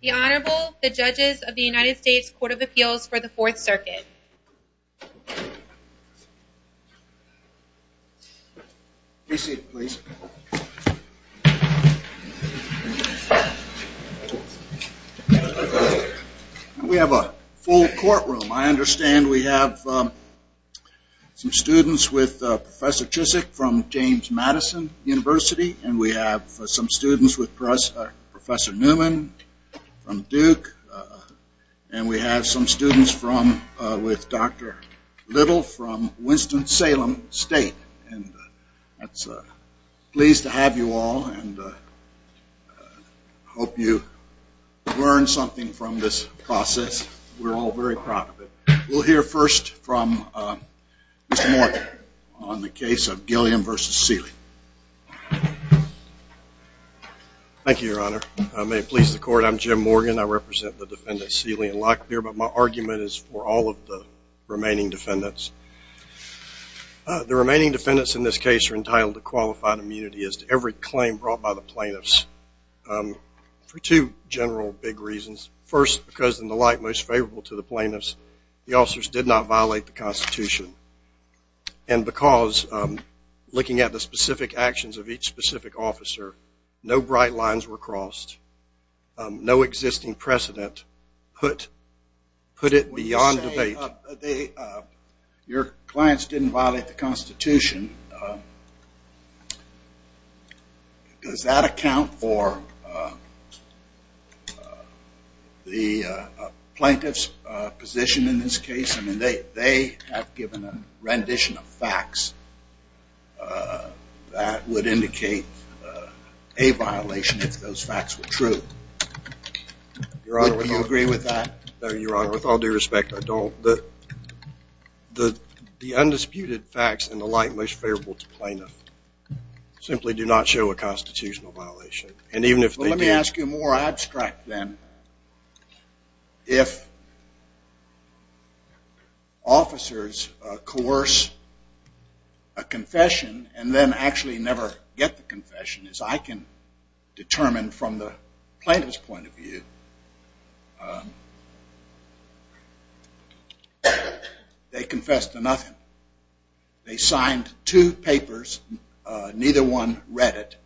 The Honorable, the Judges of the United States Court of Appeals for the Fourth Circuit. We have a full courtroom. I understand we have some students with Professor Chizik from James Madison University, and we have some students with Professor Newman from Duke, and we have some students with Dr. Little from Winston-Salem State. I'm pleased to have you all and hope you learn something from this process. We're all very proud of it. We'll hear first from Mr. Morgan on the case of Gilliam v. Sealey. Thank you, Your Honor. May it please the Court, I'm Jim Morgan. I represent the defendants, Sealey and Locklear, but my argument is for all of the remaining defendants. The remaining defendants in this case are entitled to qualified immunity as to every claim brought by the plaintiffs for two general big reasons. First, because in the light most favorable to the plaintiffs, the officers did not violate the Constitution, and because looking at the specific actions of each specific officer, no bright lines were crossed, no existing precedent put it beyond debate. Your clients didn't violate the Constitution. Does that account for the plaintiff's position in this case? I mean, they have given a rendition of facts that would indicate a violation if those facts were true. Do you agree with that? No, Your Honor. With all due respect, I don't. The undisputed facts in the light most favorable to plaintiffs simply do not show a violation. If officers coerce a confession and then actually never get the confession, as I can determine from the plaintiff's point of view, they confessed to nothing. They signed two papers, neither one read it.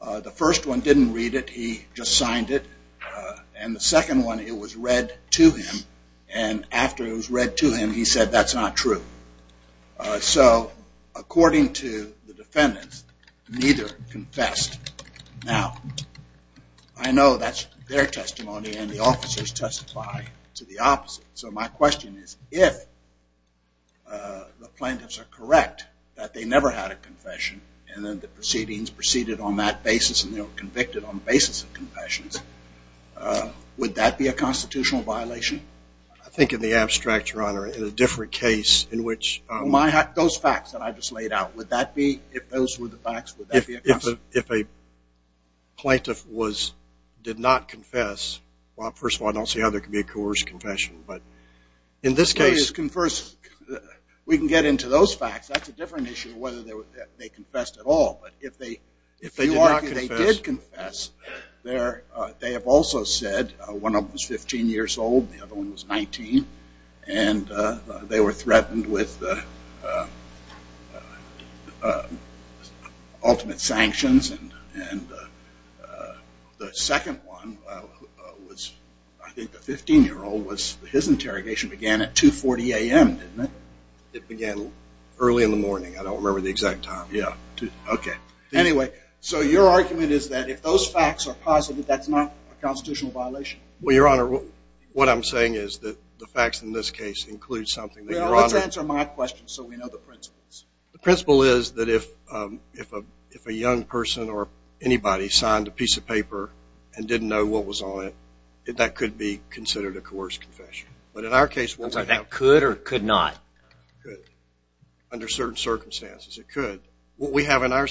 The first one didn't read it, he just signed it, and the second one, it was read to him, and after it was read to him, he said that's not true. So according to the defendants, neither confessed. Now, I know that's their testimony and the officers testify to the opposite, so my question is if the proceedings proceeded on that basis and they were convicted on the basis of confessions, would that be a constitutional violation? I think in the abstract, Your Honor, in a different case in which... Those facts that I just laid out, would that be, if those were the facts, would that be a constitutional violation? If a plaintiff did not confess, well, first of all, I don't see how there could be a coerced confession, but in this case... We can get into those facts, that's a different issue whether they confessed at all, but if they did confess, they have also said one of them was 15 years old, the other one was 19, and they were threatened with ultimate sanctions, and the second one was, I think, a 15-year-old, his interrogation began at 2.40 a.m., didn't it? It began early in the morning, I don't remember the exact time. Yeah. Okay. Anyway, so your argument is that if those facts are positive, that's not a constitutional violation? Well, Your Honor, what I'm saying is that the facts in this case include something... Let's answer my question so we know the principles. The principle is that if a young person or anybody signed a piece of paper and didn't know what was on it, that could be considered a coerced confession, but in our case... That could or could not? Could. Under certain circumstances, it could. What we have in our...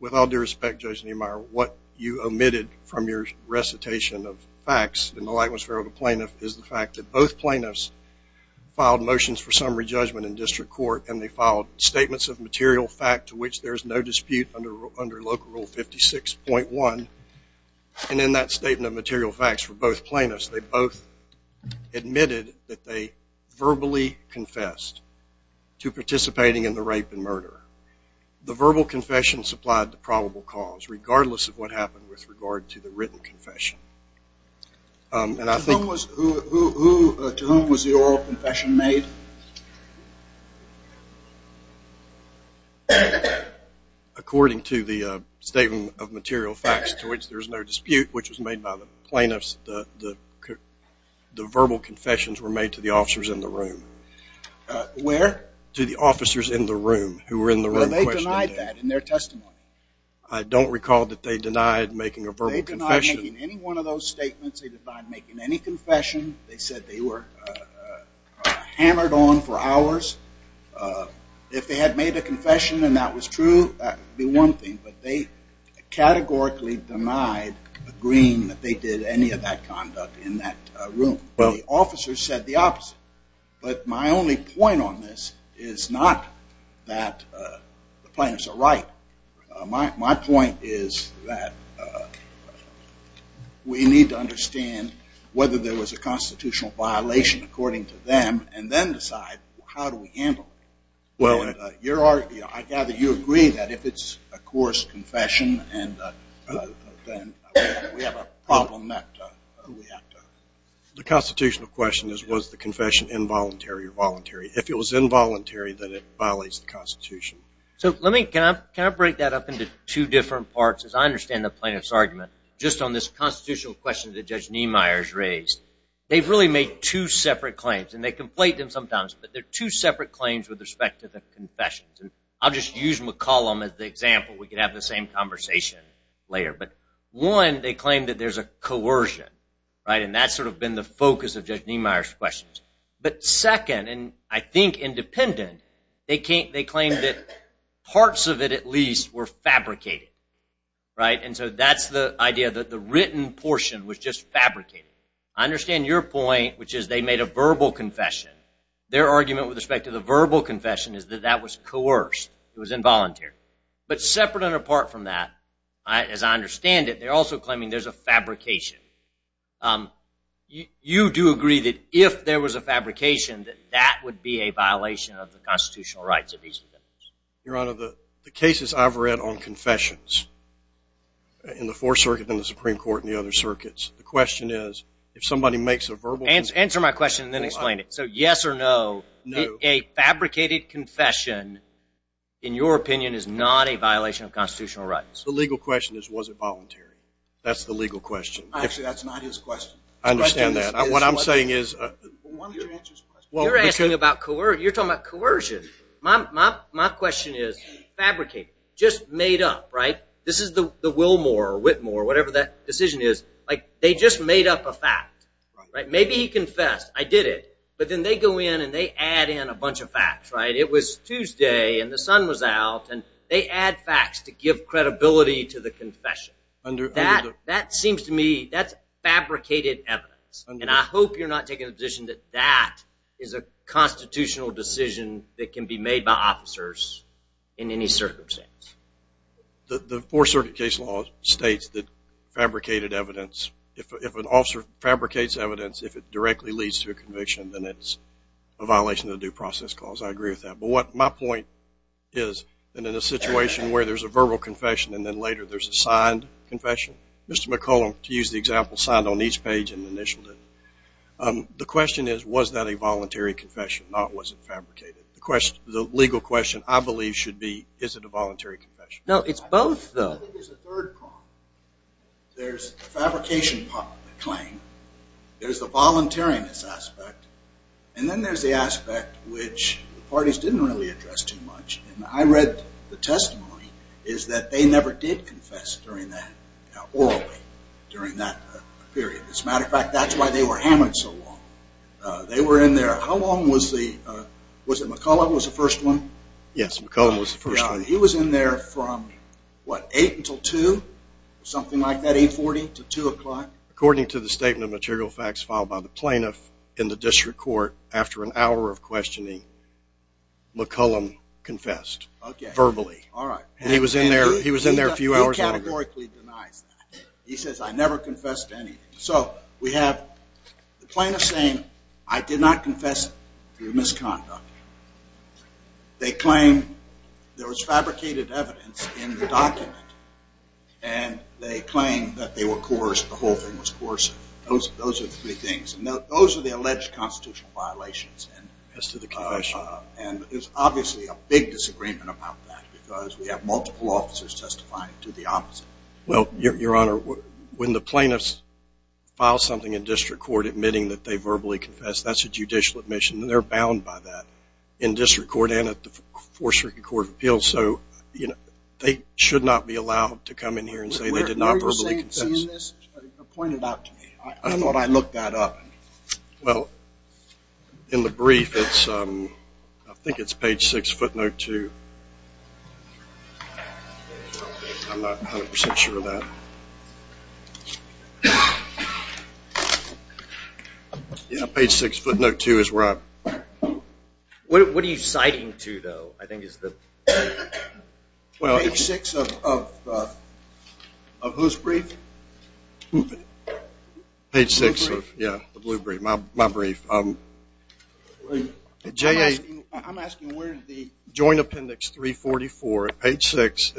With all due respect, Judge Niemeyer, what you omitted from your recitation of facts in the lightness of the plaintiff is the fact that both plaintiffs filed motions for summary judgment in that statement of material facts for both plaintiffs, they both admitted that they verbally confessed to participating in the rape and murder. The verbal confession supplied the probable cause, regardless of what happened with regard to the written confession. And I think... To whom was the oral confession made? According to the statement of material facts to which there's no dispute, which was made by the plaintiffs, the verbal confessions were made to the officers in the room. Where? To the officers in the room who were in the room questioning them. Well, they denied that in their testimony. I don't recall that they denied making a verbal confession. They denied making any one of those statements. They denied making any confession. They said they were hammered on for hours. If they had made a confession and that was true, that would be one thing. But they categorically denied agreeing that they did any of that conduct in that room. Well... The officers said the opposite. But my only point on this is not that the plaintiffs are right. My point is that we need to understand whether there was a constitutional violation according to them, and then decide how do we handle it. I gather you agree that if it's a coarse confession, then we have a problem that we have to... The constitutional question is, was the confession involuntary or voluntary? If it was involuntary, then it violates the Constitution. So let me... Can I break that up into two different parts? As I understand the plaintiff's argument, just on this constitutional question that Judge Niemeyer's raised, they've really made two separate claims. And they conflate them sometimes, but they're two separate claims with respect to the confessions. I'll just use McCollum as the example. We can have the same conversation later. But one, they claim that there's a coercion. And that's sort of been the focus of Judge Niemeyer's questions. But second, and I think independent, they claim that parts of it at least were fabricated, right? And so that's the idea that the written portion was just fabricated. I understand your point, which is they made a verbal confession. Their argument with respect to the verbal confession is that that was coerced. It was involuntary. But separate and apart from that, as I understand it, they're also claiming there's a fabrication. You do agree that if there was a fabrication, that that would be a violation of the constitutional rights of these defendants? Your Honor, the cases I've read on confessions in the Fourth Circuit and the Supreme Court and the other circuits, the question is if somebody makes a verbal... Answer my question and then explain it. So yes or no, a fabricated confession, in your opinion, is not a violation of constitutional rights? The legal question is, was it voluntary? That's the legal question. Actually, that's not his question. I understand that. What I'm saying is... You're talking about coercion. My question is fabricated, just made up, right? This is the Wilmore or Whitmore, whatever that decision is. Like, they just made up a fact, right? Maybe he confessed, I did it. But then they go in and they add in a bunch of facts, right? It was Tuesday and the sun was out and they add facts to give credibility to the confession. That seems to me, that's fabricated evidence. And I hope you're not taking the position that that is a constitutional decision that can be made by officers in any circumstance. The Fourth Circuit case law states that fabricated evidence, if an officer fabricates evidence, if it directly leads to a conviction, then it's a violation of the due process clause. I agree with that. But my point is that in a situation where there's a verbal confession and then later there's a signed confession, Mr. McCollum, to use the example, signed on each page and initialed it. The question is, was that a voluntary confession, not was it fabricated? The legal question, I believe, should be, is it a voluntary confession? No, it's both, though. I think there's a third problem. There's the fabrication claim, there's the voluntariness aspect, and then there's the aspect which the parties didn't really address too much. And I read the testimony is that they never did confess orally during that period. As a matter of fact, that's why they were hammered so long. They were in there, how long was the, was it McCollum was the first one? Yes, McCollum was the first one. He was in there from, what, 8 until 2, something like that, 840 to 2 o'clock? According to the statement of material facts filed by the plaintiff in the district court, after an hour of questioning, McCollum confessed verbally. Okay, all right. And he was in there a few hours longer. He categorically denies that. He says, I never confessed to anything. So we have the plaintiff saying, I did not confess through misconduct. They claim there was fabricated evidence in the document and they claim that they were coerced, the whole thing was coercive. Those are the three things. And those are the alleged constitutional violations. As to the confession. And there's obviously a big disagreement about that because we have multiple officers testifying to the opposite. Well, Your Honor, when the plaintiffs file something in district court admitting that they verbally confessed, that's a judicial admission. They're bound by that in district court and at the Fourth Circuit Court of Appeals. So they should not be allowed to come in here and say they did not verbally confess. Were you saying this or pointed out to me? I thought I looked that up. Well, in the brief, I think it's page 6, footnote 2. I'm not 100% sure of that. Yeah, page 6, footnote 2 is right. What are you citing to, though, I think is the? Page 6 of whose brief? Page 6, yeah, the blue brief, my brief. I'm asking where is the joint appendix 344 at page 6.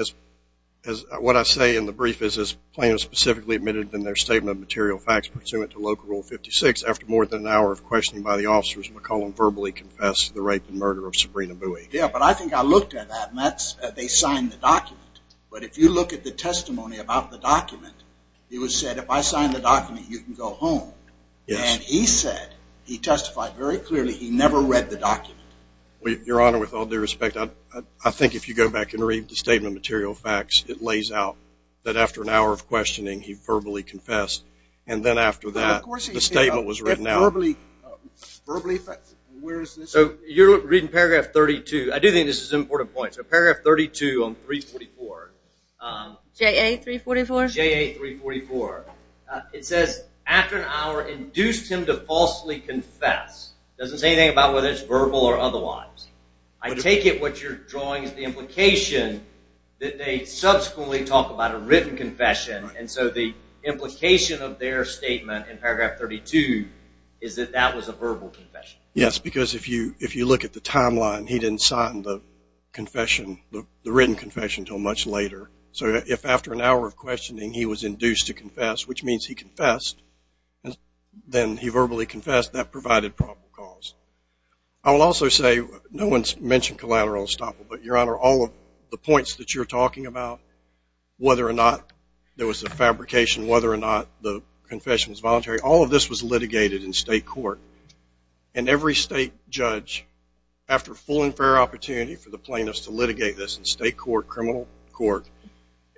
What I say in the brief is this plaintiff specifically admitted in their statement of material facts pursuant to Local Rule 56 after more than an hour of questioning by the officers, McCollum verbally confessed to the rape and murder of Sabrina Bowie. Yeah, but I think I looked at that, and they signed the document. But if you look at the testimony about the document, it was said, if I sign the document, you can go home. Your Honor, with all due respect, I think if you go back and read the statement of material facts, it lays out that after an hour of questioning, he verbally confessed. And then after that, the statement was written out. Verbally, where is this? So you're reading paragraph 32. I do think this is an important point. So paragraph 32 on 344. JA344? JA344. It says, after an hour, induced him to falsely confess. It doesn't say anything about whether it's verbal or otherwise. I take it what you're drawing is the implication that they subsequently talk about a written confession, and so the implication of their statement in paragraph 32 is that that was a verbal confession. Yes, because if you look at the timeline, he didn't sign the written confession until much later. So if after an hour of questioning, he was induced to confess, which means he confessed, then he verbally confessed, that provided probable cause. I will also say no one's mentioned collateral estoppel, but, Your Honor, all of the points that you're talking about, whether or not there was a fabrication, whether or not the confession was voluntary, all of this was litigated in state court. And every state judge, after full and fair opportunity for the plaintiffs to litigate this in state court,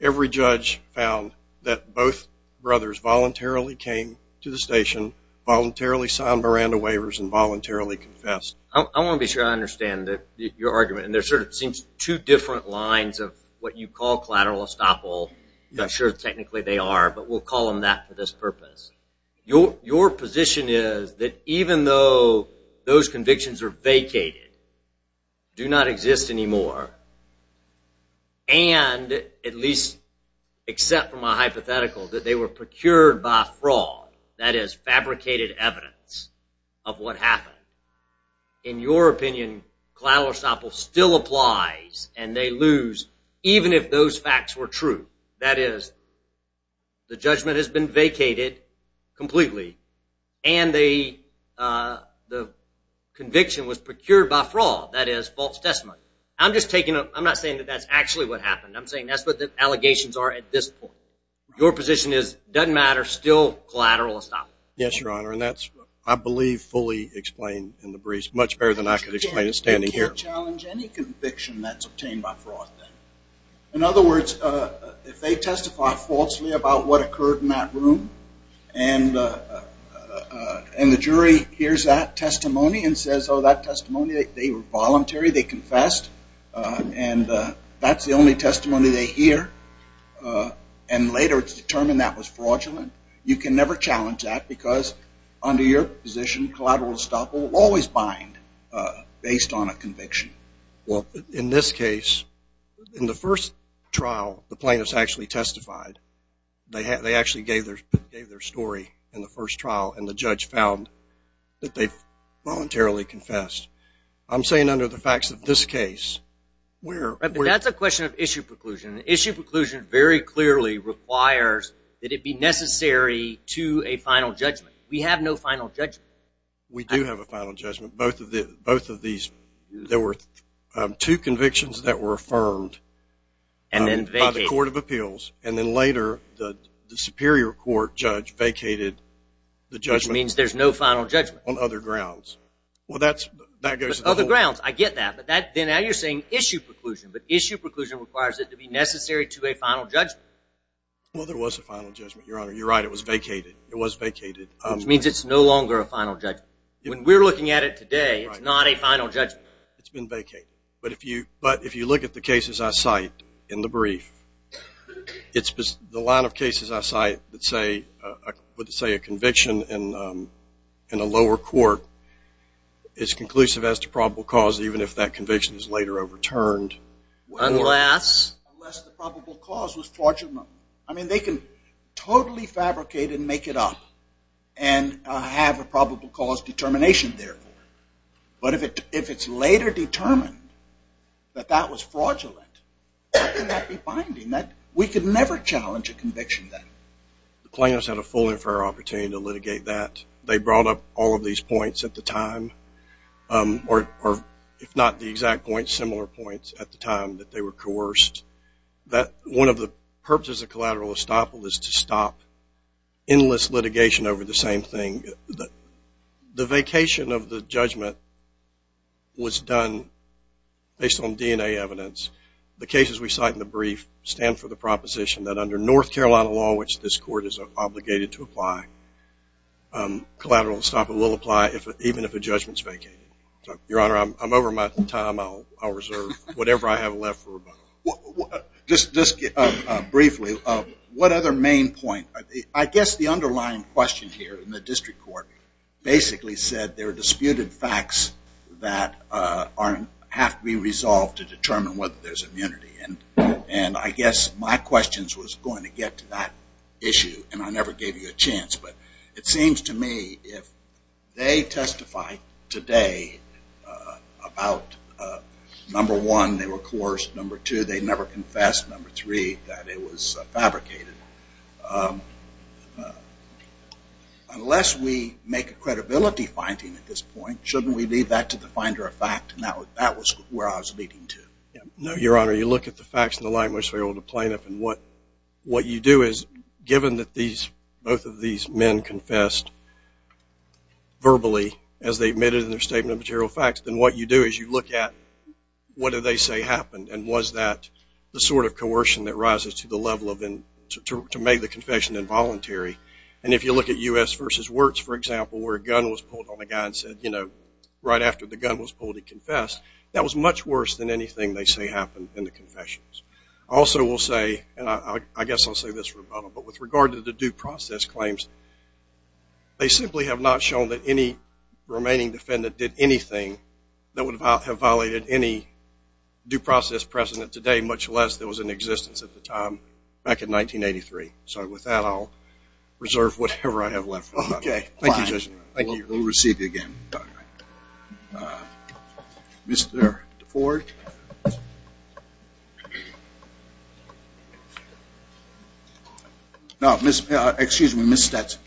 every judge found that both brothers voluntarily came to the station, voluntarily signed Miranda waivers, and voluntarily confessed. I want to be sure I understand your argument. And there sort of seems two different lines of what you call collateral estoppel. I'm not sure technically they are, but we'll call them that for this purpose. Your position is that even though those convictions are vacated, do not exist anymore, and at least except from a hypothetical that they were procured by fraud, that is, fabricated evidence of what happened, in your opinion, collateral estoppel still applies, and they lose even if those facts were true. That is, the judgment has been vacated completely, and the conviction was procured by fraud, that is, false testimony. I'm not saying that that's actually what happened. I'm saying that's what the allegations are at this point. Your position is it doesn't matter, still collateral estoppel. Yes, Your Honor, and that's, I believe, fully explained in the briefs, much better than I could explain it standing here. You can't challenge any conviction that's obtained by fraud then. In other words, if they testify falsely about what occurred in that room, and the jury hears that testimony and says, oh, that testimony, they were voluntary, they confessed, and that's the only testimony they hear, and later it's determined that was fraudulent, you can never challenge that because under your position, collateral estoppel will always bind based on a conviction. Well, in this case, in the first trial, the plaintiffs actually testified. They actually gave their story in the first trial, and the judge found that they voluntarily confessed. I'm saying under the facts of this case, where we're at. That's a question of issue preclusion. Issue preclusion very clearly requires that it be necessary to a final judgment. We have no final judgment. We do have a final judgment. Both of these, there were two convictions that were affirmed by the court of appeals, and then later the superior court judge vacated the judgment. Which means there's no final judgment. On other grounds. Well, that goes to the whole. Other grounds, I get that, but then now you're saying issue preclusion, but issue preclusion requires it to be necessary to a final judgment. Well, there was a final judgment, Your Honor. You're right, it was vacated. It was vacated. Which means it's no longer a final judgment. When we're looking at it today, it's not a final judgment. It's been vacated. But if you look at the cases I cite in the brief, the line of cases I cite that say a conviction in a lower court is conclusive as to probable cause, even if that conviction is later overturned. Unless? Unless the probable cause was fraudulent. I mean, they can totally fabricate and make it up and have a probable cause determination there. But if it's later determined that that was fraudulent, how can that be binding? We could never challenge a conviction then. The plaintiffs had a full and fair opportunity to litigate that. They brought up all of these points at the time, or if not the exact points, similar points at the time that they were coerced. One of the purposes of collateral estoppel is to stop endless litigation over the same thing. The vacation of the judgment was done based on DNA evidence. The cases we cite in the brief stand for the proposition that under North Carolina law, which this court is obligated to apply, collateral estoppel will apply even if a judgment is vacated. Your Honor, I'm over my time. I'll reserve whatever I have left for rebuttal. Just briefly, what other main point? I guess the underlying question here in the district court basically said there are disputed facts that have to be resolved to determine whether there's immunity. And I guess my question was going to get to that issue, and I never gave you a chance. But it seems to me if they testify today about, number one, they were coerced. Number two, they never confessed. Number three, that it was fabricated. Unless we make a credibility finding at this point, shouldn't we leave that to the finder of fact? And that was where I was leading to. No, Your Honor. You look at the facts and the language of the plaintiff, and what you do is given that both of these men confessed verbally as they admitted in their statement of material facts, then what you do is you look at what do they say happened, and was that the sort of coercion that rises to the level to make the confession involuntary. And if you look at U.S. v. Wirtz, for example, where a gun was pulled on a guy and said right after the gun was pulled he confessed, that was much worse than anything they say happened in the confessions. I also will say, and I guess I'll say this rebuttal, but with regard to the due process claims, they simply have not shown that any remaining defendant did anything that would have violated any due process precedent today, much less there was an existence at the time back in 1983. So with that, I'll reserve whatever I have left. Okay. Thank you, Judge. Thank you. We'll receive you again. All right. Mr. DeFord. No, excuse me, Ms. Stetson.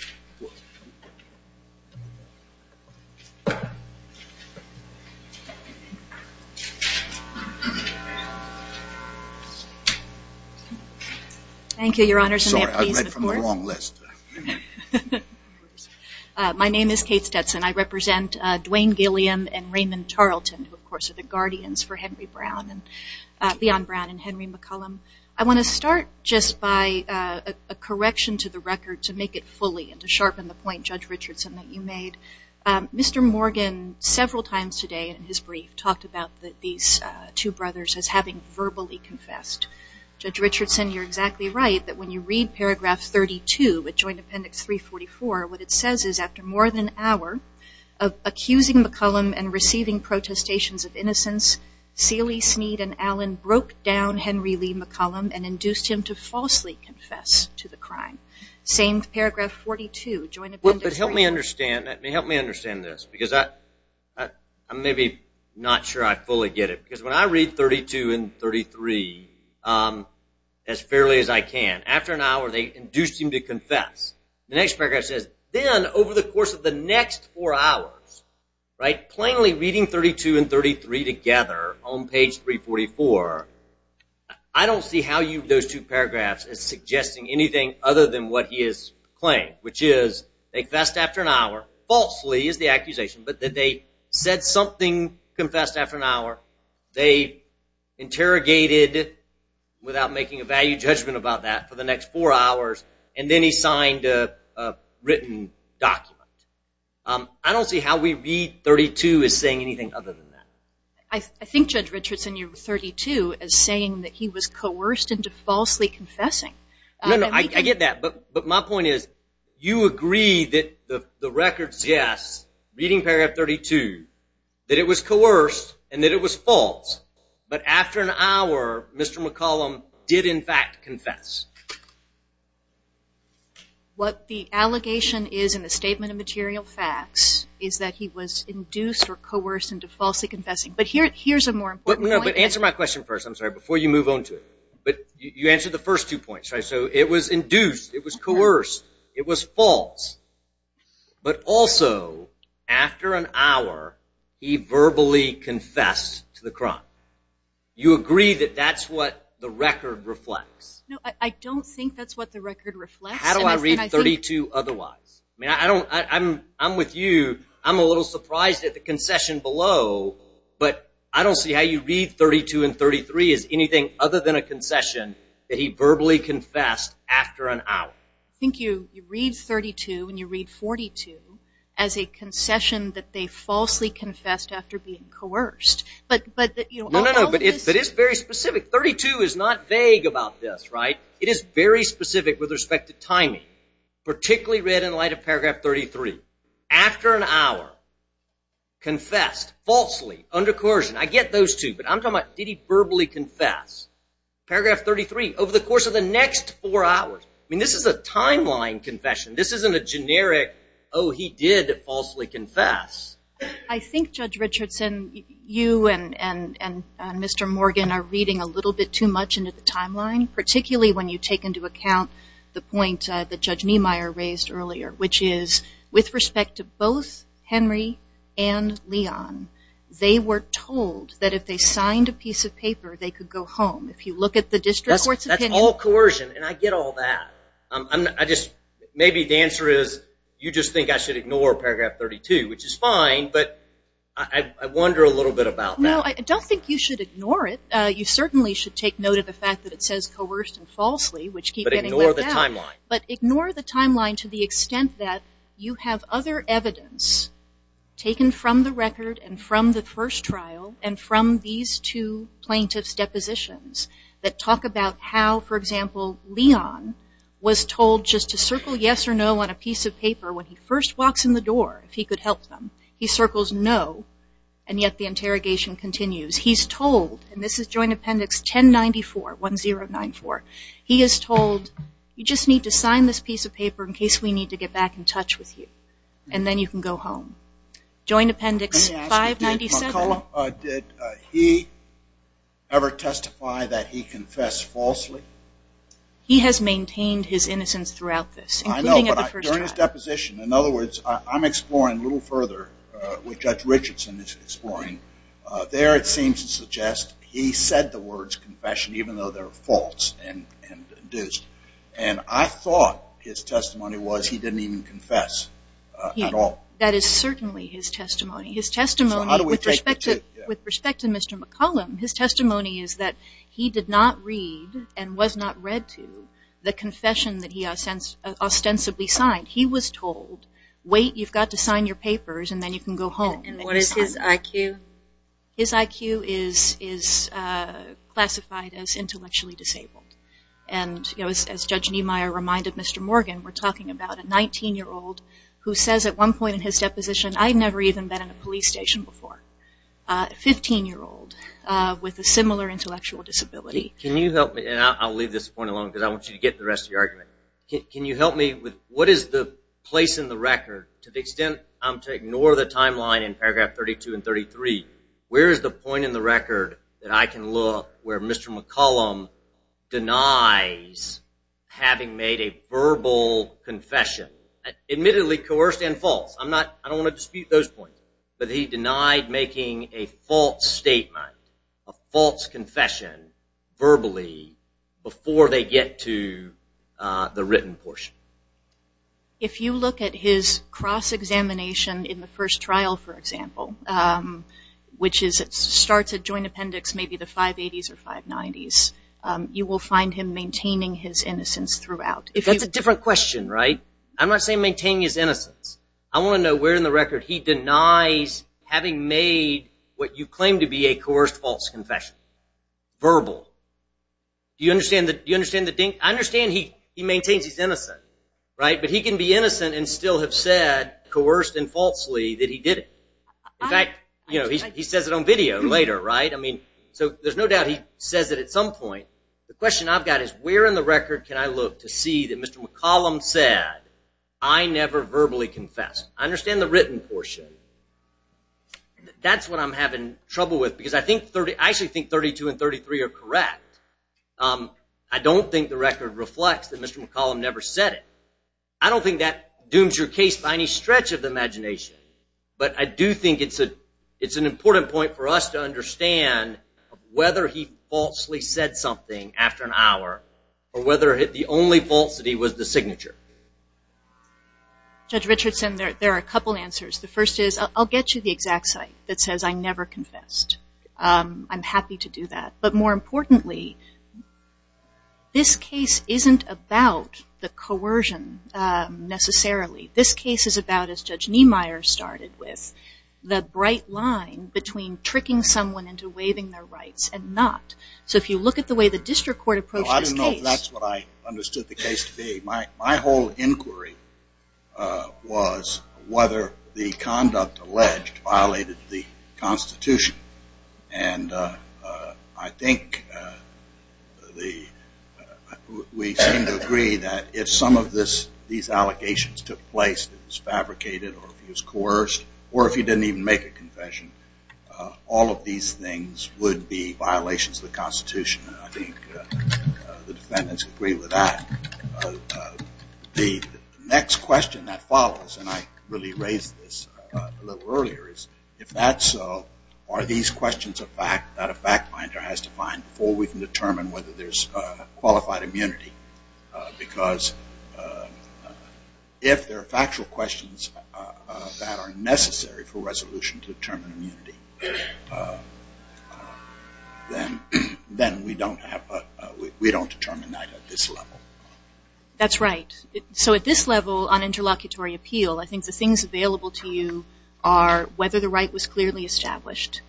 Thank you, Your Honors. Sorry, I read from the wrong list. My name is Kate Stetson. I represent Dwayne Gilliam and Raymond Tarleton, who of course are the guardians for Leon Brown and Henry McCollum. I want to start just by a correction to the record to make it fully and to sharpen the point, Judge Richardson, that you made. Mr. Morgan, several times today in his brief, talked about these two brothers as having verbally confessed. Judge Richardson, you're exactly right, that when you read paragraph 32 of Joint Appendix 344, what it says is, after more than an hour of accusing McCollum and receiving protestations of innocence, Seeley, Smead, and Allen broke down Henry Lee McCollum and induced him to falsely confess to the crime. Same paragraph 42, Joint Appendix 34. But help me understand this, because I'm maybe not sure I fully get it. Because when I read 32 and 33 as fairly as I can, after an hour they induced him to confess. The next paragraph says, then over the course of the next four hours, plainly reading 32 and 33 together on page 344, I don't see how those two paragraphs is suggesting anything other than what he is claiming, which is, they confessed after an hour, falsely is the accusation, but that they said something, confessed after an hour, they interrogated without making a value judgment about that for the next four hours, and then he signed a written document. I don't see how we read 32 as saying anything other than that. I think Judge Richardson, you're 32 as saying that he was coerced into falsely confessing. No, no, I get that. But my point is, you agree that the records, yes, reading paragraph 32, that it was coerced and that it was false, but after an hour Mr. McCollum did in fact confess. What the allegation is in the statement of material facts is that he was induced or coerced into falsely confessing. But here's a more important point. But answer my question first, I'm sorry, before you move on to it. But you answered the first two points, right? So it was induced, it was coerced, it was false, but also after an hour he verbally confessed to the crime. You agree that that's what the record reflects? No, I don't think that's what the record reflects. How do I read 32 otherwise? I mean, I don't, I'm with you. I'm a little surprised at the concession below, but I don't see how you read 32 and 33 as anything other than a concession that he verbally confessed after an hour. I think you read 32 and you read 42 as a concession that they falsely confessed after being coerced. No, no, no, but it is very specific. 32 is not vague about this, right? It is very specific with respect to timing, particularly read in light of paragraph 33. After an hour, confessed, falsely, under coercion. I get those two, but I'm talking about did he verbally confess. Paragraph 33, over the course of the next four hours. I mean, this is a timeline confession. This isn't a generic, oh, he did falsely confess. I think, Judge Richardson, you and Mr. Morgan are reading a little bit too much into the timeline, particularly when you take into account the point that Judge Niemeyer raised earlier, which is with respect to both Henry and Leon, they were told that if they signed a piece of paper, they could go home. If you look at the district court's opinion. That's all coercion, and I get all that. Maybe the answer is you just think I should ignore paragraph 32, which is fine, but I wonder a little bit about that. No, I don't think you should ignore it. You certainly should take note of the fact that it says coerced and falsely, which keeps getting left out. But ignore the timeline. But ignore the timeline to the extent that you have other evidence taken from the that talk about how, for example, Leon was told just to circle yes or no on a piece of paper when he first walks in the door, if he could help them. He circles no, and yet the interrogation continues. He's told, and this is Joint Appendix 1094, 1-0-9-4, he is told you just need to sign this piece of paper in case we need to get back in touch with you, and then you can go home. Joint Appendix 597. Did he ever testify that he confessed falsely? He has maintained his innocence throughout this, including at the first trial. I know, but during his deposition, in other words, I'm exploring a little further what Judge Richardson is exploring. There it seems to suggest he said the words confession, even though they're false and induced. And I thought his testimony was he didn't even confess at all. That is certainly his testimony. His testimony with respect to Mr. McCollum, his testimony is that he did not read and was not read to the confession that he ostensibly signed. He was told, wait, you've got to sign your papers, and then you can go home. And what is his IQ? His IQ is classified as intellectually disabled. And as Judge Niemeyer reminded Mr. Morgan, we're talking about a 19-year-old who says at one point in his deposition, I've never even been in a police station before. A 15-year-old with a similar intellectual disability. Can you help me? And I'll leave this point alone because I want you to get the rest of the argument. Can you help me with what is the place in the record, to the extent I'm to ignore the timeline in paragraph 32 and 33, where is the point in the record that I can look where Mr. McCollum denies having made a verbal confession? Admittedly, coerced and false. I don't want to dispute those points. But he denied making a false statement, a false confession, verbally before they get to the written portion. If you look at his cross-examination in the first trial, for example, which starts at Joint Appendix maybe the 580s or 590s, you will find him maintaining his innocence throughout. That's a different question, right? I'm not saying maintaining his innocence. I want to know where in the record he denies having made what you claim to be a coerced false confession, verbal. Do you understand the dink? I understand he maintains his innocence, right? But he can be innocent and still have said, coerced and falsely, that he did it. In fact, he says it on video later, right? So there's no doubt he says it at some point. The question I've got is where in the record can I look to see that Mr. McCollum said, I never verbally confessed. I understand the written portion. That's what I'm having trouble with because I actually think 32 and 33 are correct. I don't think the record reflects that Mr. McCollum never said it. I don't think that dooms your case by any stretch of the imagination. But I do think it's an important point for us to understand whether he falsely said something after an hour or whether the only falsity was the signature. Judge Richardson, there are a couple answers. The first is I'll get you the exact site that says I never confessed. I'm happy to do that. But more importantly, this case isn't about the coercion necessarily. This case is about, as Judge Niemeyer started with, the bright line between tricking someone into waiving their rights and not. So if you look at the way the district court approached this case. Well, I don't know if that's what I understood the case to be. My whole inquiry was whether the conduct alleged violated the Constitution. And I think we seem to agree that if some of these allegations took place, it was fabricated or it was coerced, or if you didn't even make a confession, all of these things would be violations of the Constitution. And I think the defendants agree with that. The next question that follows, and I really raised this a little earlier, is if that's so, are these questions a fact that a fact finder has to find before we can determine whether there's qualified immunity? Because if there are factual questions that are necessary for resolution to determine immunity, then we don't determine that at this level. That's right. So at this level on interlocutory appeal, I think the things available to you are whether the right was clearly established.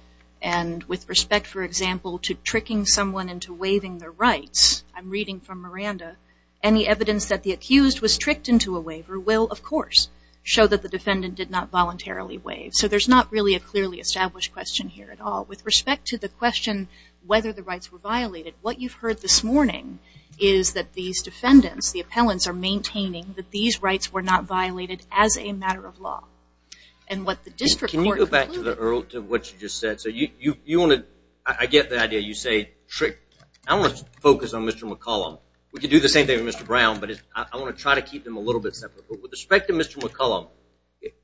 And with respect, for example, to tricking someone into waiving their rights, I'm reading from Miranda, any evidence that the accused was tricked into a waiver will, of course, show that the defendant did not voluntarily waive. So there's not really a clearly established question here at all. With respect to the question whether the rights were violated, what you've heard this morning is that these defendants, the appellants are maintaining that these rights were not violated as a matter of law. Can you go back to what you just said? I get the idea. You say trick. I want to focus on Mr. McCollum. We can do the same thing with Mr. Brown, but I want to try to keep them a little bit separate. But with respect to Mr. McCollum,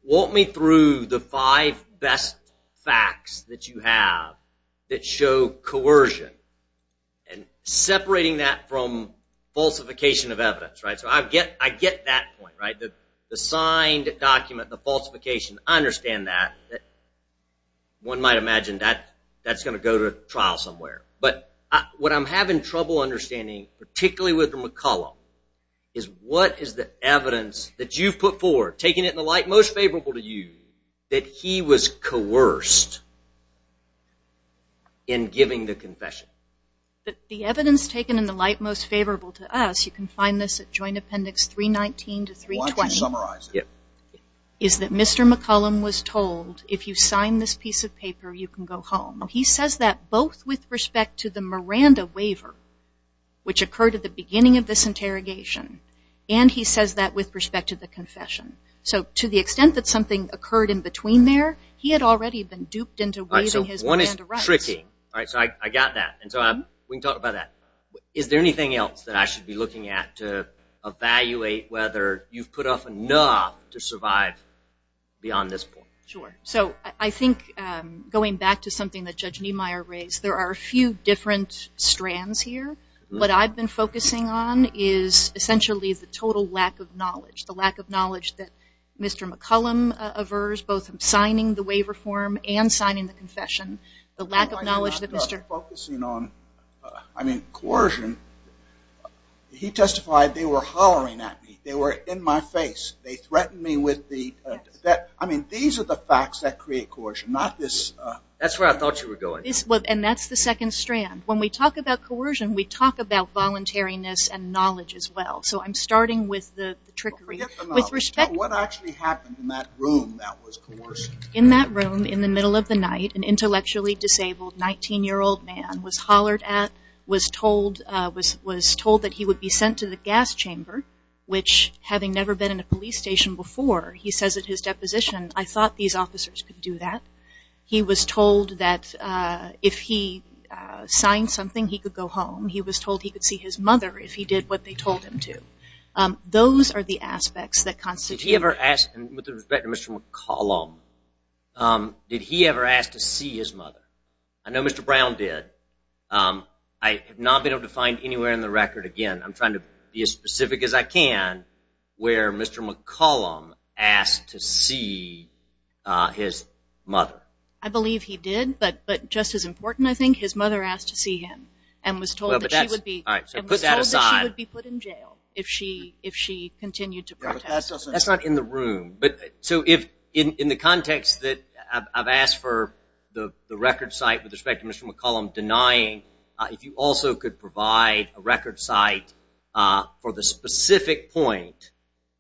walk me through the five best facts that you have that show coercion, and separating that from falsification of evidence. So I get that point. The signed document, the falsification, I understand that. One might imagine that that's going to go to trial somewhere. But what I'm having trouble understanding, particularly with Mr. McCollum, is what is the evidence that you've put forward, taking it in the light most favorable to you, that he was coerced in giving the confession? The evidence taken in the light most favorable to us, you can find this at Joint Appendix 319 to 320, is that Mr. McCollum was told, if you sign this piece of paper, you can go home. He says that both with respect to the Miranda waiver, which occurred at the beginning of this interrogation, and he says that with respect to the confession. So to the extent that something occurred in between there, he had already been duped into waiving his Miranda rights. So one is tricky. So I got that. We can talk about that. Is there anything else that I should be looking at to evaluate whether you've put up enough to survive beyond this point? Sure. So I think going back to something that Judge Niemeyer raised, there are a few different strands here. What I've been focusing on is essentially the total lack of knowledge, the lack of knowledge that Mr. McCollum aversed, both in signing the waiver form and signing the confession. The lack of knowledge that Mr. I'm focusing on, I mean, coercion. He testified they were hollering at me. They were in my face. They threatened me with the, I mean, these are the facts that create coercion, not this. That's where I thought you were going. And that's the second strand. When we talk about coercion, we talk about voluntariness and knowledge as well. So I'm starting with the trickery. Forget the knowledge. What actually happened in that room that was coercion? In that room in the middle of the night, an intellectually disabled 19-year-old man was hollered at, was told that he would be sent to the gas chamber, which having never been in a police station before, he says at his deposition, I thought these officers could do that. He was told that if he signed something, he could go home. He was told he could see his mother if he did what they told him to. Those are the aspects that constitute. Did he ever ask, and with respect to Mr. McCollum, did he ever ask to see his mother? I know Mr. Brown did. I have not been able to find anywhere in the record, again, I'm trying to be as specific as I can, where Mr. McCollum asked to see his mother. I believe he did, but just as important, I think, his mother asked to see him and was told that she would be put in jail if she continued to protest. That's not in the room. In the context that I've asked for the record site, with respect to Mr. McCollum denying, if you also could provide a record site for the specific point,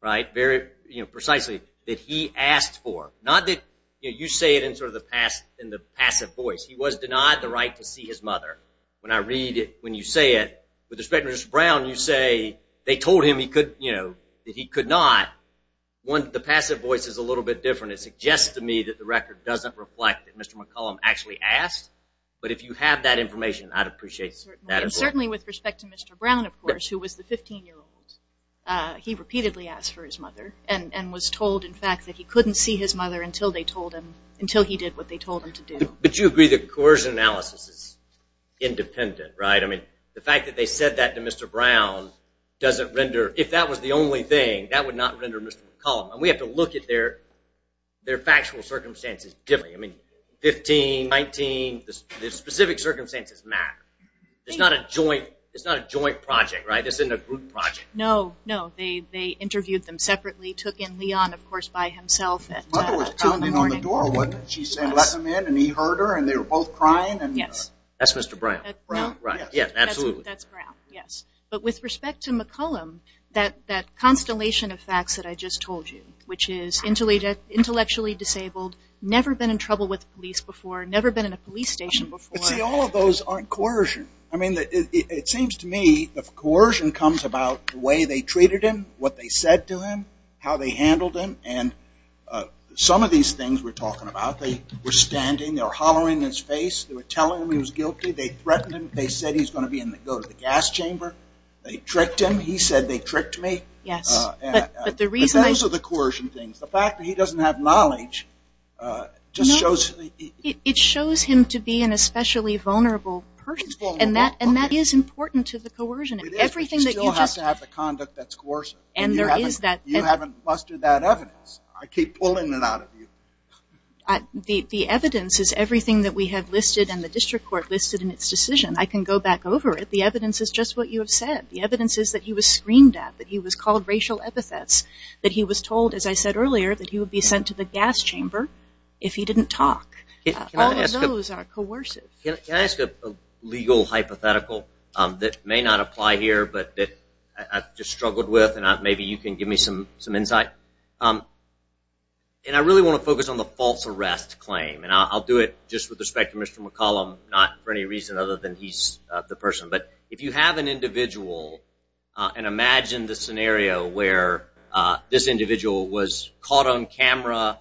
very precisely, that he asked for, not that you say it in sort of the passive voice, he was denied the right to see his mother. When I read it, when you say it, with respect to Mr. Brown, you say they told him that he could not. The passive voice is a little bit different. It suggests to me that the record doesn't reflect that Mr. McCollum actually asked, but if you have that information, I'd appreciate that as well. Certainly, with respect to Mr. Brown, of course, who was the 15-year-old, he repeatedly asked for his mother and was told, in fact, that he couldn't see his mother until he did what they told him to do. But you agree that coercion analysis is independent, right? I mean, the fact that they said that to Mr. Brown doesn't render, if that was the only thing, that would not render Mr. McCollum. And we have to look at their factual circumstances differently. I mean, 15, 19, the specific circumstances matter. It's not a joint project, right? This isn't a group project. No, no. They interviewed them separately, took in Leon, of course, by himself. His mother was pounding on the door when she let him in, and he heard her, and they were both crying. That's Mr. Brown. Brown, right. Yes, absolutely. That's Brown, yes. But with respect to McCollum, that constellation of facts that I just told you, which is intellectually disabled, never been in trouble with police before, never been in a police station before. But see, all of those aren't coercion. I mean, it seems to me that coercion comes about the way they treated him, what they said to him, how they handled him, and some of these things we're talking about. They were standing, they were hollering in his face, they were telling him he was guilty, they threatened him, they said he was going to go to the gas chamber. They tricked him. He said, they tricked me. Yes. But those are the coercion things. The fact that he doesn't have knowledge just shows. It shows him to be an especially vulnerable person, and that is important to the coercion. It is, but you still have to have the conduct that's coercive. And there is that. You haven't mustered that evidence. I keep pulling it out of you. The evidence is everything that we have listed and the district court listed in its decision. I can go back over it. The evidence is just what you have said. The evidence is that he was screamed at, that he was called racial epithets, that he was told, as I said earlier, that he would be sent to the gas chamber if he didn't talk. All of those are coercive. Can I ask a legal hypothetical that may not apply here but that I've just struggled with and maybe you can give me some insight? I really want to focus on the false arrest claim. I'll do it just with respect to Mr. McCollum, not for any reason other than he's the person. But if you have an individual and imagine the scenario where this individual was caught on camera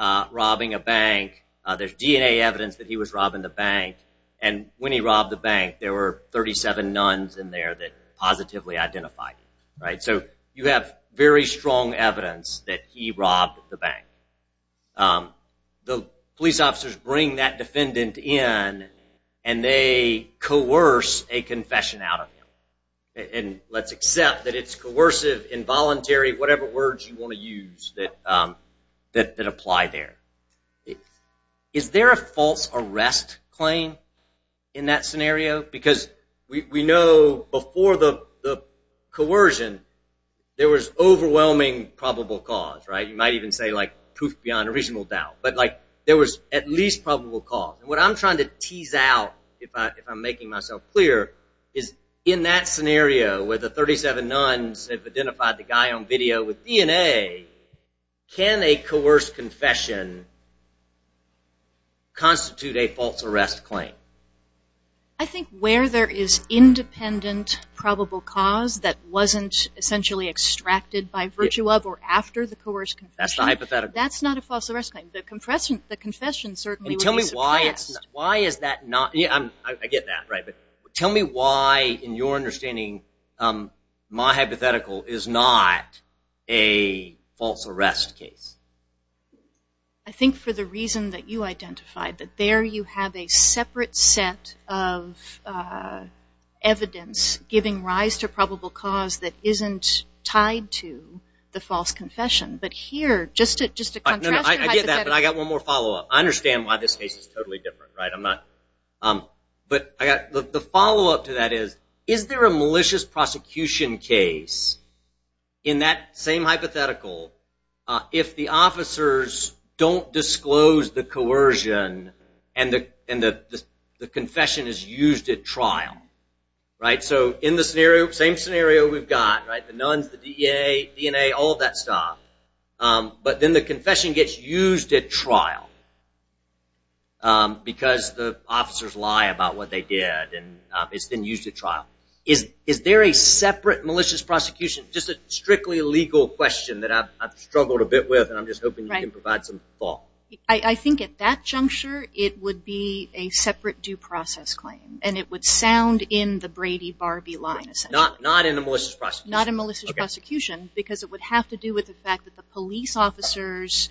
robbing a bank, there's DNA evidence that he was robbing the bank, and when he robbed the bank there were 37 nuns in there that positively identified him. So you have very strong evidence that he robbed the bank. The police officers bring that defendant in and they coerce a confession out of him. And let's accept that it's coercive, involuntary, whatever words you want to use that apply there. Is there a false arrest claim in that scenario? Because we know before the coercion there was overwhelming probable cause. You might even say proof beyond a reasonable doubt. But there was at least probable cause. What I'm trying to tease out, if I'm making myself clear, is in that scenario where the 37 nuns have identified the guy on video with DNA, can a coerced confession constitute a false arrest claim? I think where there is independent probable cause that wasn't essentially extracted by virtue of or after the coerced confession, that's not a false arrest claim. The confession certainly would be suppressed. And tell me why is that not? I get that, right. But tell me why, in your understanding, my hypothetical is not a false arrest case. I think for the reason that you identified, that there you have a separate set of evidence giving rise to probable cause that isn't tied to the false confession. But here, just to contrast your hypothetical. I get that, but I've got one more follow-up. I understand why this case is totally different. But the follow-up to that is, is there a malicious prosecution case in that same hypothetical if the officers don't disclose the coercion and the confession is used at trial? So in the same scenario we've got, the nuns, the DNA, all that stuff. But then the confession gets used at trial because the officers lie about what they did, and it's then used at trial. Is there a separate malicious prosecution, just a strictly legal question that I've struggled a bit with, and I'm just hoping you can provide some thought. I think at that juncture it would be a separate due process claim, and it would sound in the Brady-Barbee line, essentially. Not in a malicious prosecution. Not in a malicious prosecution, because it would have to do with the fact that the police officers,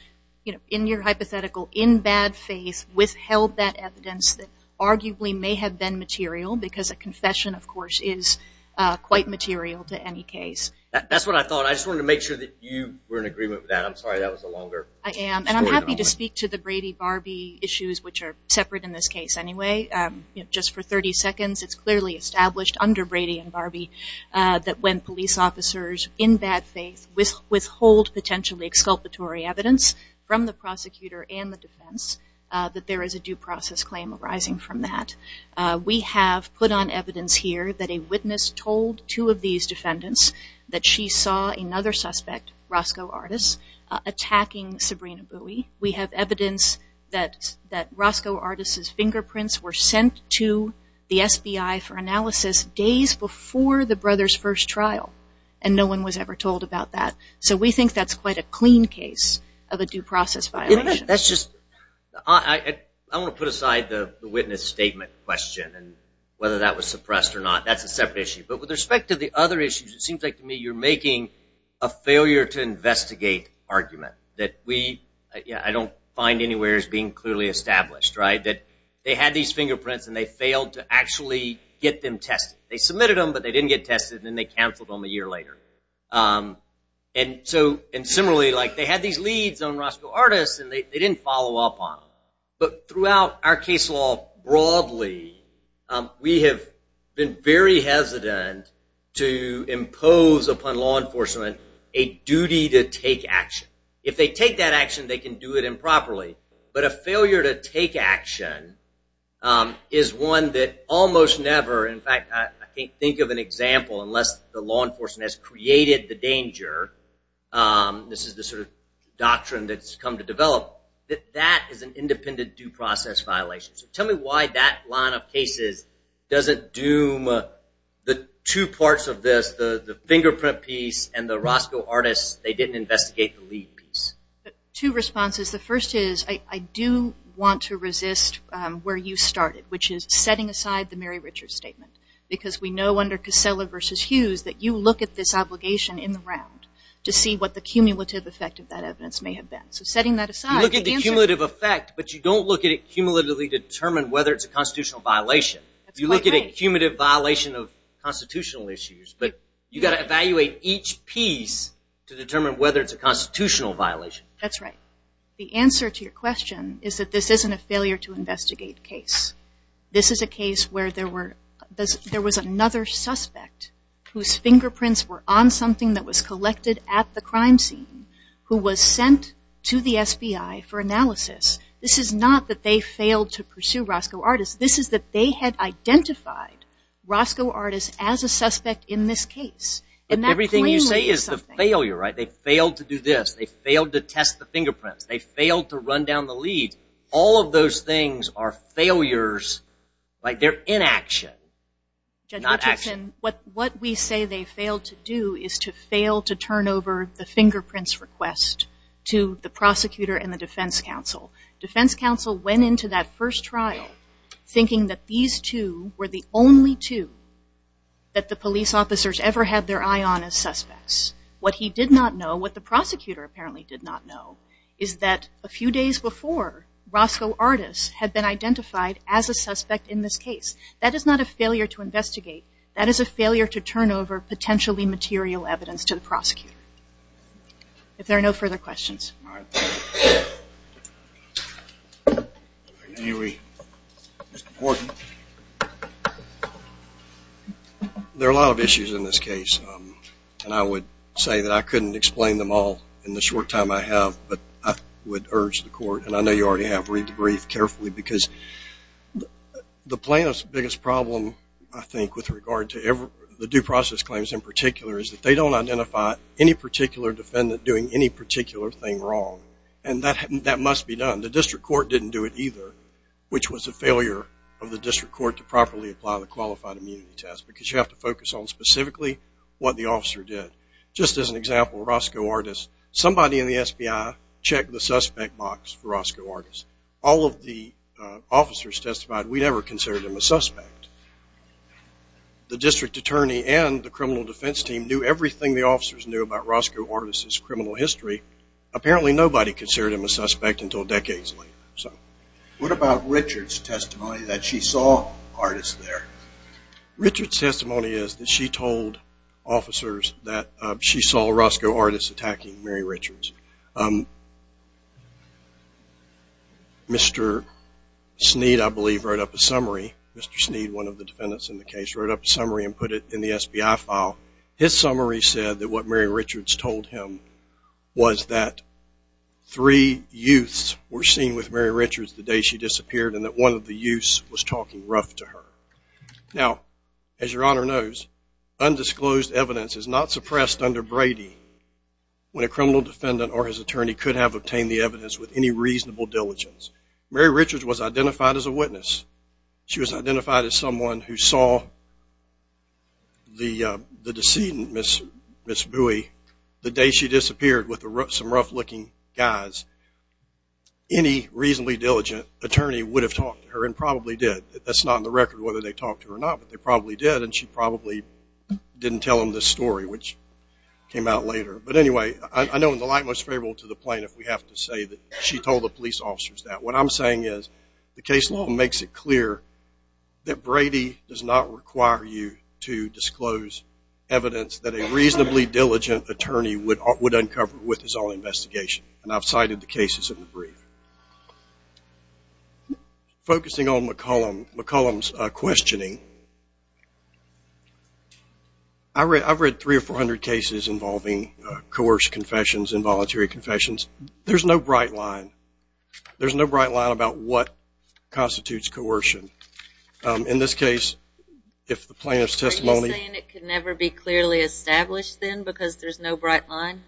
in your hypothetical, in bad faith, withheld that evidence that arguably may have been material, because a confession, of course, is quite material to any case. That's what I thought. I just wanted to make sure that you were in agreement with that. I'm sorry that was a longer story than I wanted. I am, and I'm happy to speak to the Brady-Barbee issues, which are separate in this case anyway. Just for 30 seconds, it's clearly established under Brady and Barbee that when police officers, in bad faith, withhold potentially exculpatory evidence from the prosecutor and the defense, that there is a due process claim arising from that. We have put on evidence here that a witness told two of these defendants that she saw another suspect, Roscoe Artis, attacking Sabrina Bowie. We have evidence that Roscoe Artis's fingerprints were sent to the SBI for analysis days before the brothers' first trial, and no one was ever told about that. So we think that's quite a clean case of a due process violation. I want to put aside the witness statement question and whether that was suppressed or not. That's a separate issue. But with respect to the other issues, it seems like to me you're making a failure-to-investigate argument that I don't find anywhere as being clearly established. They had these fingerprints, and they failed to actually get them tested. They submitted them, but they didn't get tested, and then they canceled them a year later. And similarly, they had these leads on Roscoe Artis, and they didn't follow up on them. But throughout our case law broadly, we have been very hesitant to impose upon law enforcement a duty to take action. If they take that action, they can do it improperly. But a failure to take action is one that almost never— created the danger, this is the sort of doctrine that's come to develop, that that is an independent due process violation. So tell me why that line of cases doesn't doom the two parts of this, the fingerprint piece and the Roscoe Artis, they didn't investigate the lead piece. Two responses. The first is I do want to resist where you started, which is setting aside the Mary Richards statement. Because we know under Casella v. Hughes that you look at this obligation in the round to see what the cumulative effect of that evidence may have been. So setting that aside— You look at the cumulative effect, but you don't look at it cumulatively to determine whether it's a constitutional violation. You look at a cumulative violation of constitutional issues, but you've got to evaluate each piece to determine whether it's a constitutional violation. That's right. The answer to your question is that this isn't a failure to investigate case. This is a case where there was another suspect whose fingerprints were on something that was collected at the crime scene who was sent to the SBI for analysis. This is not that they failed to pursue Roscoe Artis. This is that they had identified Roscoe Artis as a suspect in this case. Everything you say is a failure. They failed to do this. They failed to test the fingerprints. They failed to run down the lead. All of those things are failures. They're inaction, not action. Judge Richardson, what we say they failed to do is to fail to turn over the fingerprints request to the prosecutor and the defense counsel. Defense counsel went into that first trial thinking that these two were the only two that the police officers ever had their eye on as suspects. What he did not know, what the prosecutor apparently did not know, is that a few days before, Roscoe Artis had been identified as a suspect in this case. That is not a failure to investigate. That is a failure to turn over potentially material evidence to the prosecutor. If there are no further questions. All right. Mr. Horton. There are a lot of issues in this case, and I would say that I couldn't explain them all in the short time I have, but I would urge the court, and I know you already have, read the brief carefully, because the plaintiff's biggest problem, I think, with regard to the due process claims in particular, is that they don't identify any particular defendant doing any particular thing wrong, and that must be done. The district court didn't do it either, which was a failure of the district court to properly apply the qualified immunity test because you have to focus on specifically what the officer did. Just as an example, Roscoe Artis, somebody in the SBI checked the suspect box for Roscoe Artis. All of the officers testified we never considered him a suspect. The district attorney and the criminal defense team knew everything the officers knew about Roscoe Artis' criminal history. Apparently nobody considered him a suspect until decades later. What about Richard's testimony that she saw Artis there? Richard's testimony is that she told officers that she saw Roscoe Artis attacking Mary Richards. Mr. Sneed, I believe, wrote up a summary. Mr. Sneed, one of the defendants in the case, wrote up a summary and put it in the SBI file. His summary said that what Mary Richards told him was that three youths were seen with Mary Richards the day she disappeared and that one of the youths was talking rough to her. Now, as Your Honor knows, undisclosed evidence is not suppressed under Brady when a criminal defendant or his attorney could have obtained the evidence with any reasonable diligence. Mary Richards was identified as a witness. She was identified as someone who saw the decedent, Ms. Bowie, the day she disappeared with some rough-looking guys. Any reasonably diligent attorney would have talked to her and probably did. That's not on the record whether they talked to her or not, but they probably did, and she probably didn't tell them this story, which came out later. But anyway, I know in the light most favorable to the plaintiff we have to say that she told the police officers that. What I'm saying is the case law makes it clear that Brady does not require you to disclose evidence that a reasonably diligent attorney would uncover with his own investigation. And I've cited the cases in the brief. Focusing on McCollum's questioning, I've read 300 or 400 cases involving coerced confessions and voluntary confessions. There's no bright line. There's no bright line about what constitutes coercion. In this case, if the plaintiff's testimony- Are you saying it could never be clearly established then because there's no bright line?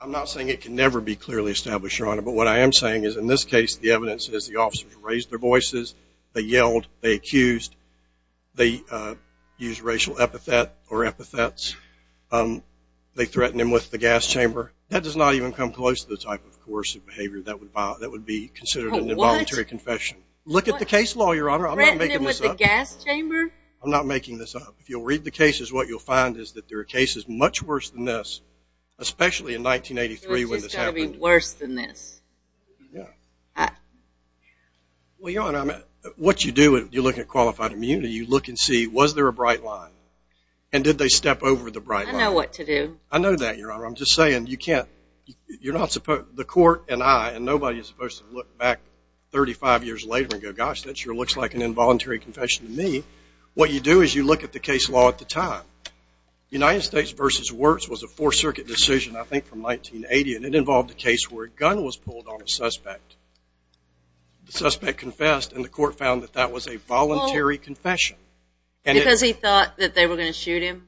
I'm not saying it can never be clearly established, Your Honor, but what I am saying is in this case the evidence is the officers raised their voices. They yelled. They accused. They used racial epithet or epithets. They threatened him with the gas chamber. That does not even come close to the type of coercive behavior that would be considered an involuntary confession. Look at the case law, Your Honor. I'm not making this up. Threatened him with the gas chamber? I'm not making this up. If you'll read the cases, what you'll find is that there are cases much worse than this, especially in 1983 when this happened. So it's just going to be worse than this? Yeah. Well, Your Honor, what you do when you look at qualified immunity, you look and see, was there a bright line, and did they step over the bright line? I know what to do. I know that, Your Honor. I'm just saying you can't-you're not supposed-the court and I, and nobody is supposed to look back 35 years later and go, gosh, that sure looks like an involuntary confession to me. What you do is you look at the case law at the time. United States v. Wirtz was a Fourth Circuit decision, I think, from 1980, and it involved a case where a gun was pulled on a suspect. The suspect confessed, and the court found that that was a voluntary confession. Because he thought that they were going to shoot him?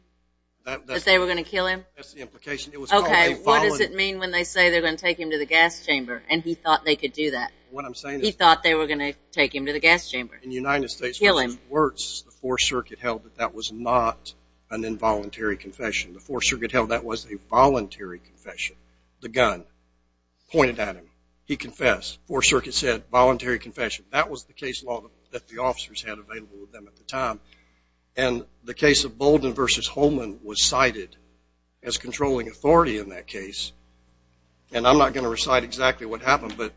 That they were going to kill him? That's the implication. Okay, what does it mean when they say they're going to take him to the gas chamber and he thought they could do that? What I'm saying is- He thought they were going to take him to the gas chamber? In United States v. Wirtz, the Fourth Circuit held that that was not an involuntary confession. The Fourth Circuit held that was a voluntary confession. The gun pointed at him. He confessed. Fourth Circuit said voluntary confession. That was the case law that the officers had available to them at the time. And the case of Bolden v. Holman was cited as controlling authority in that case. And I'm not going to recite exactly what happened, but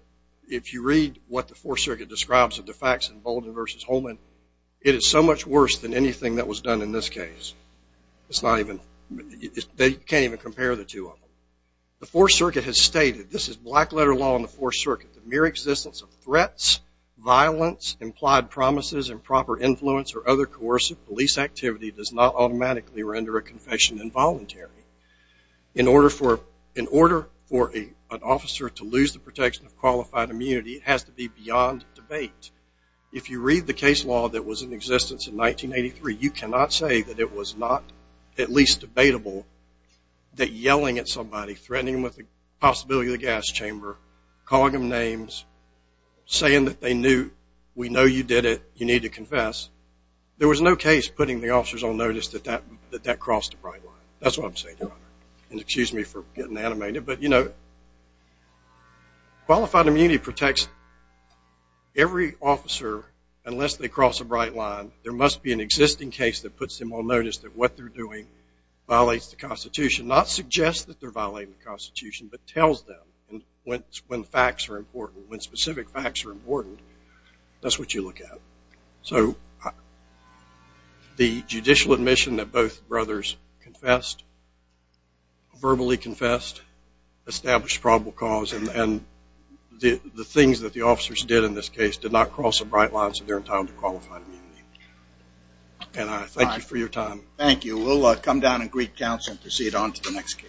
if you read what the Fourth Circuit describes of the facts in Bolden v. Holman, it is so much worse than anything that was done in this case. It's not even- They can't even compare the two of them. The Fourth Circuit has stated, this is black letter law in the Fourth Circuit, the mere existence of threats, violence, implied promises, improper influence, or other coercive police activity does not automatically render a confession involuntary. In order for an officer to lose the protection of qualified immunity, it has to be beyond debate. If you read the case law that was in existence in 1983, you cannot say that it was not at least debatable that yelling at somebody, threatening them with the possibility of the gas chamber, calling them names, saying that they knew, we know you did it, you need to confess, there was no case putting the officers on notice that that crossed a bright line. That's what I'm saying. And excuse me for getting animated, but, you know, qualified immunity protects every officer unless they cross a bright line. There must be an existing case that puts them on notice that what they're doing violates the Constitution, not suggest that they're violating the Constitution, but tells them when facts are important, when specific facts are important. That's what you look at. So the judicial admission that both brothers confessed, verbally confessed, established probable cause, and the things that the officers did in this case did not cross a bright line, so they're entitled to qualified immunity. And I thank you for your time. Thank you. We'll come down and greet counsel and proceed on to the next case.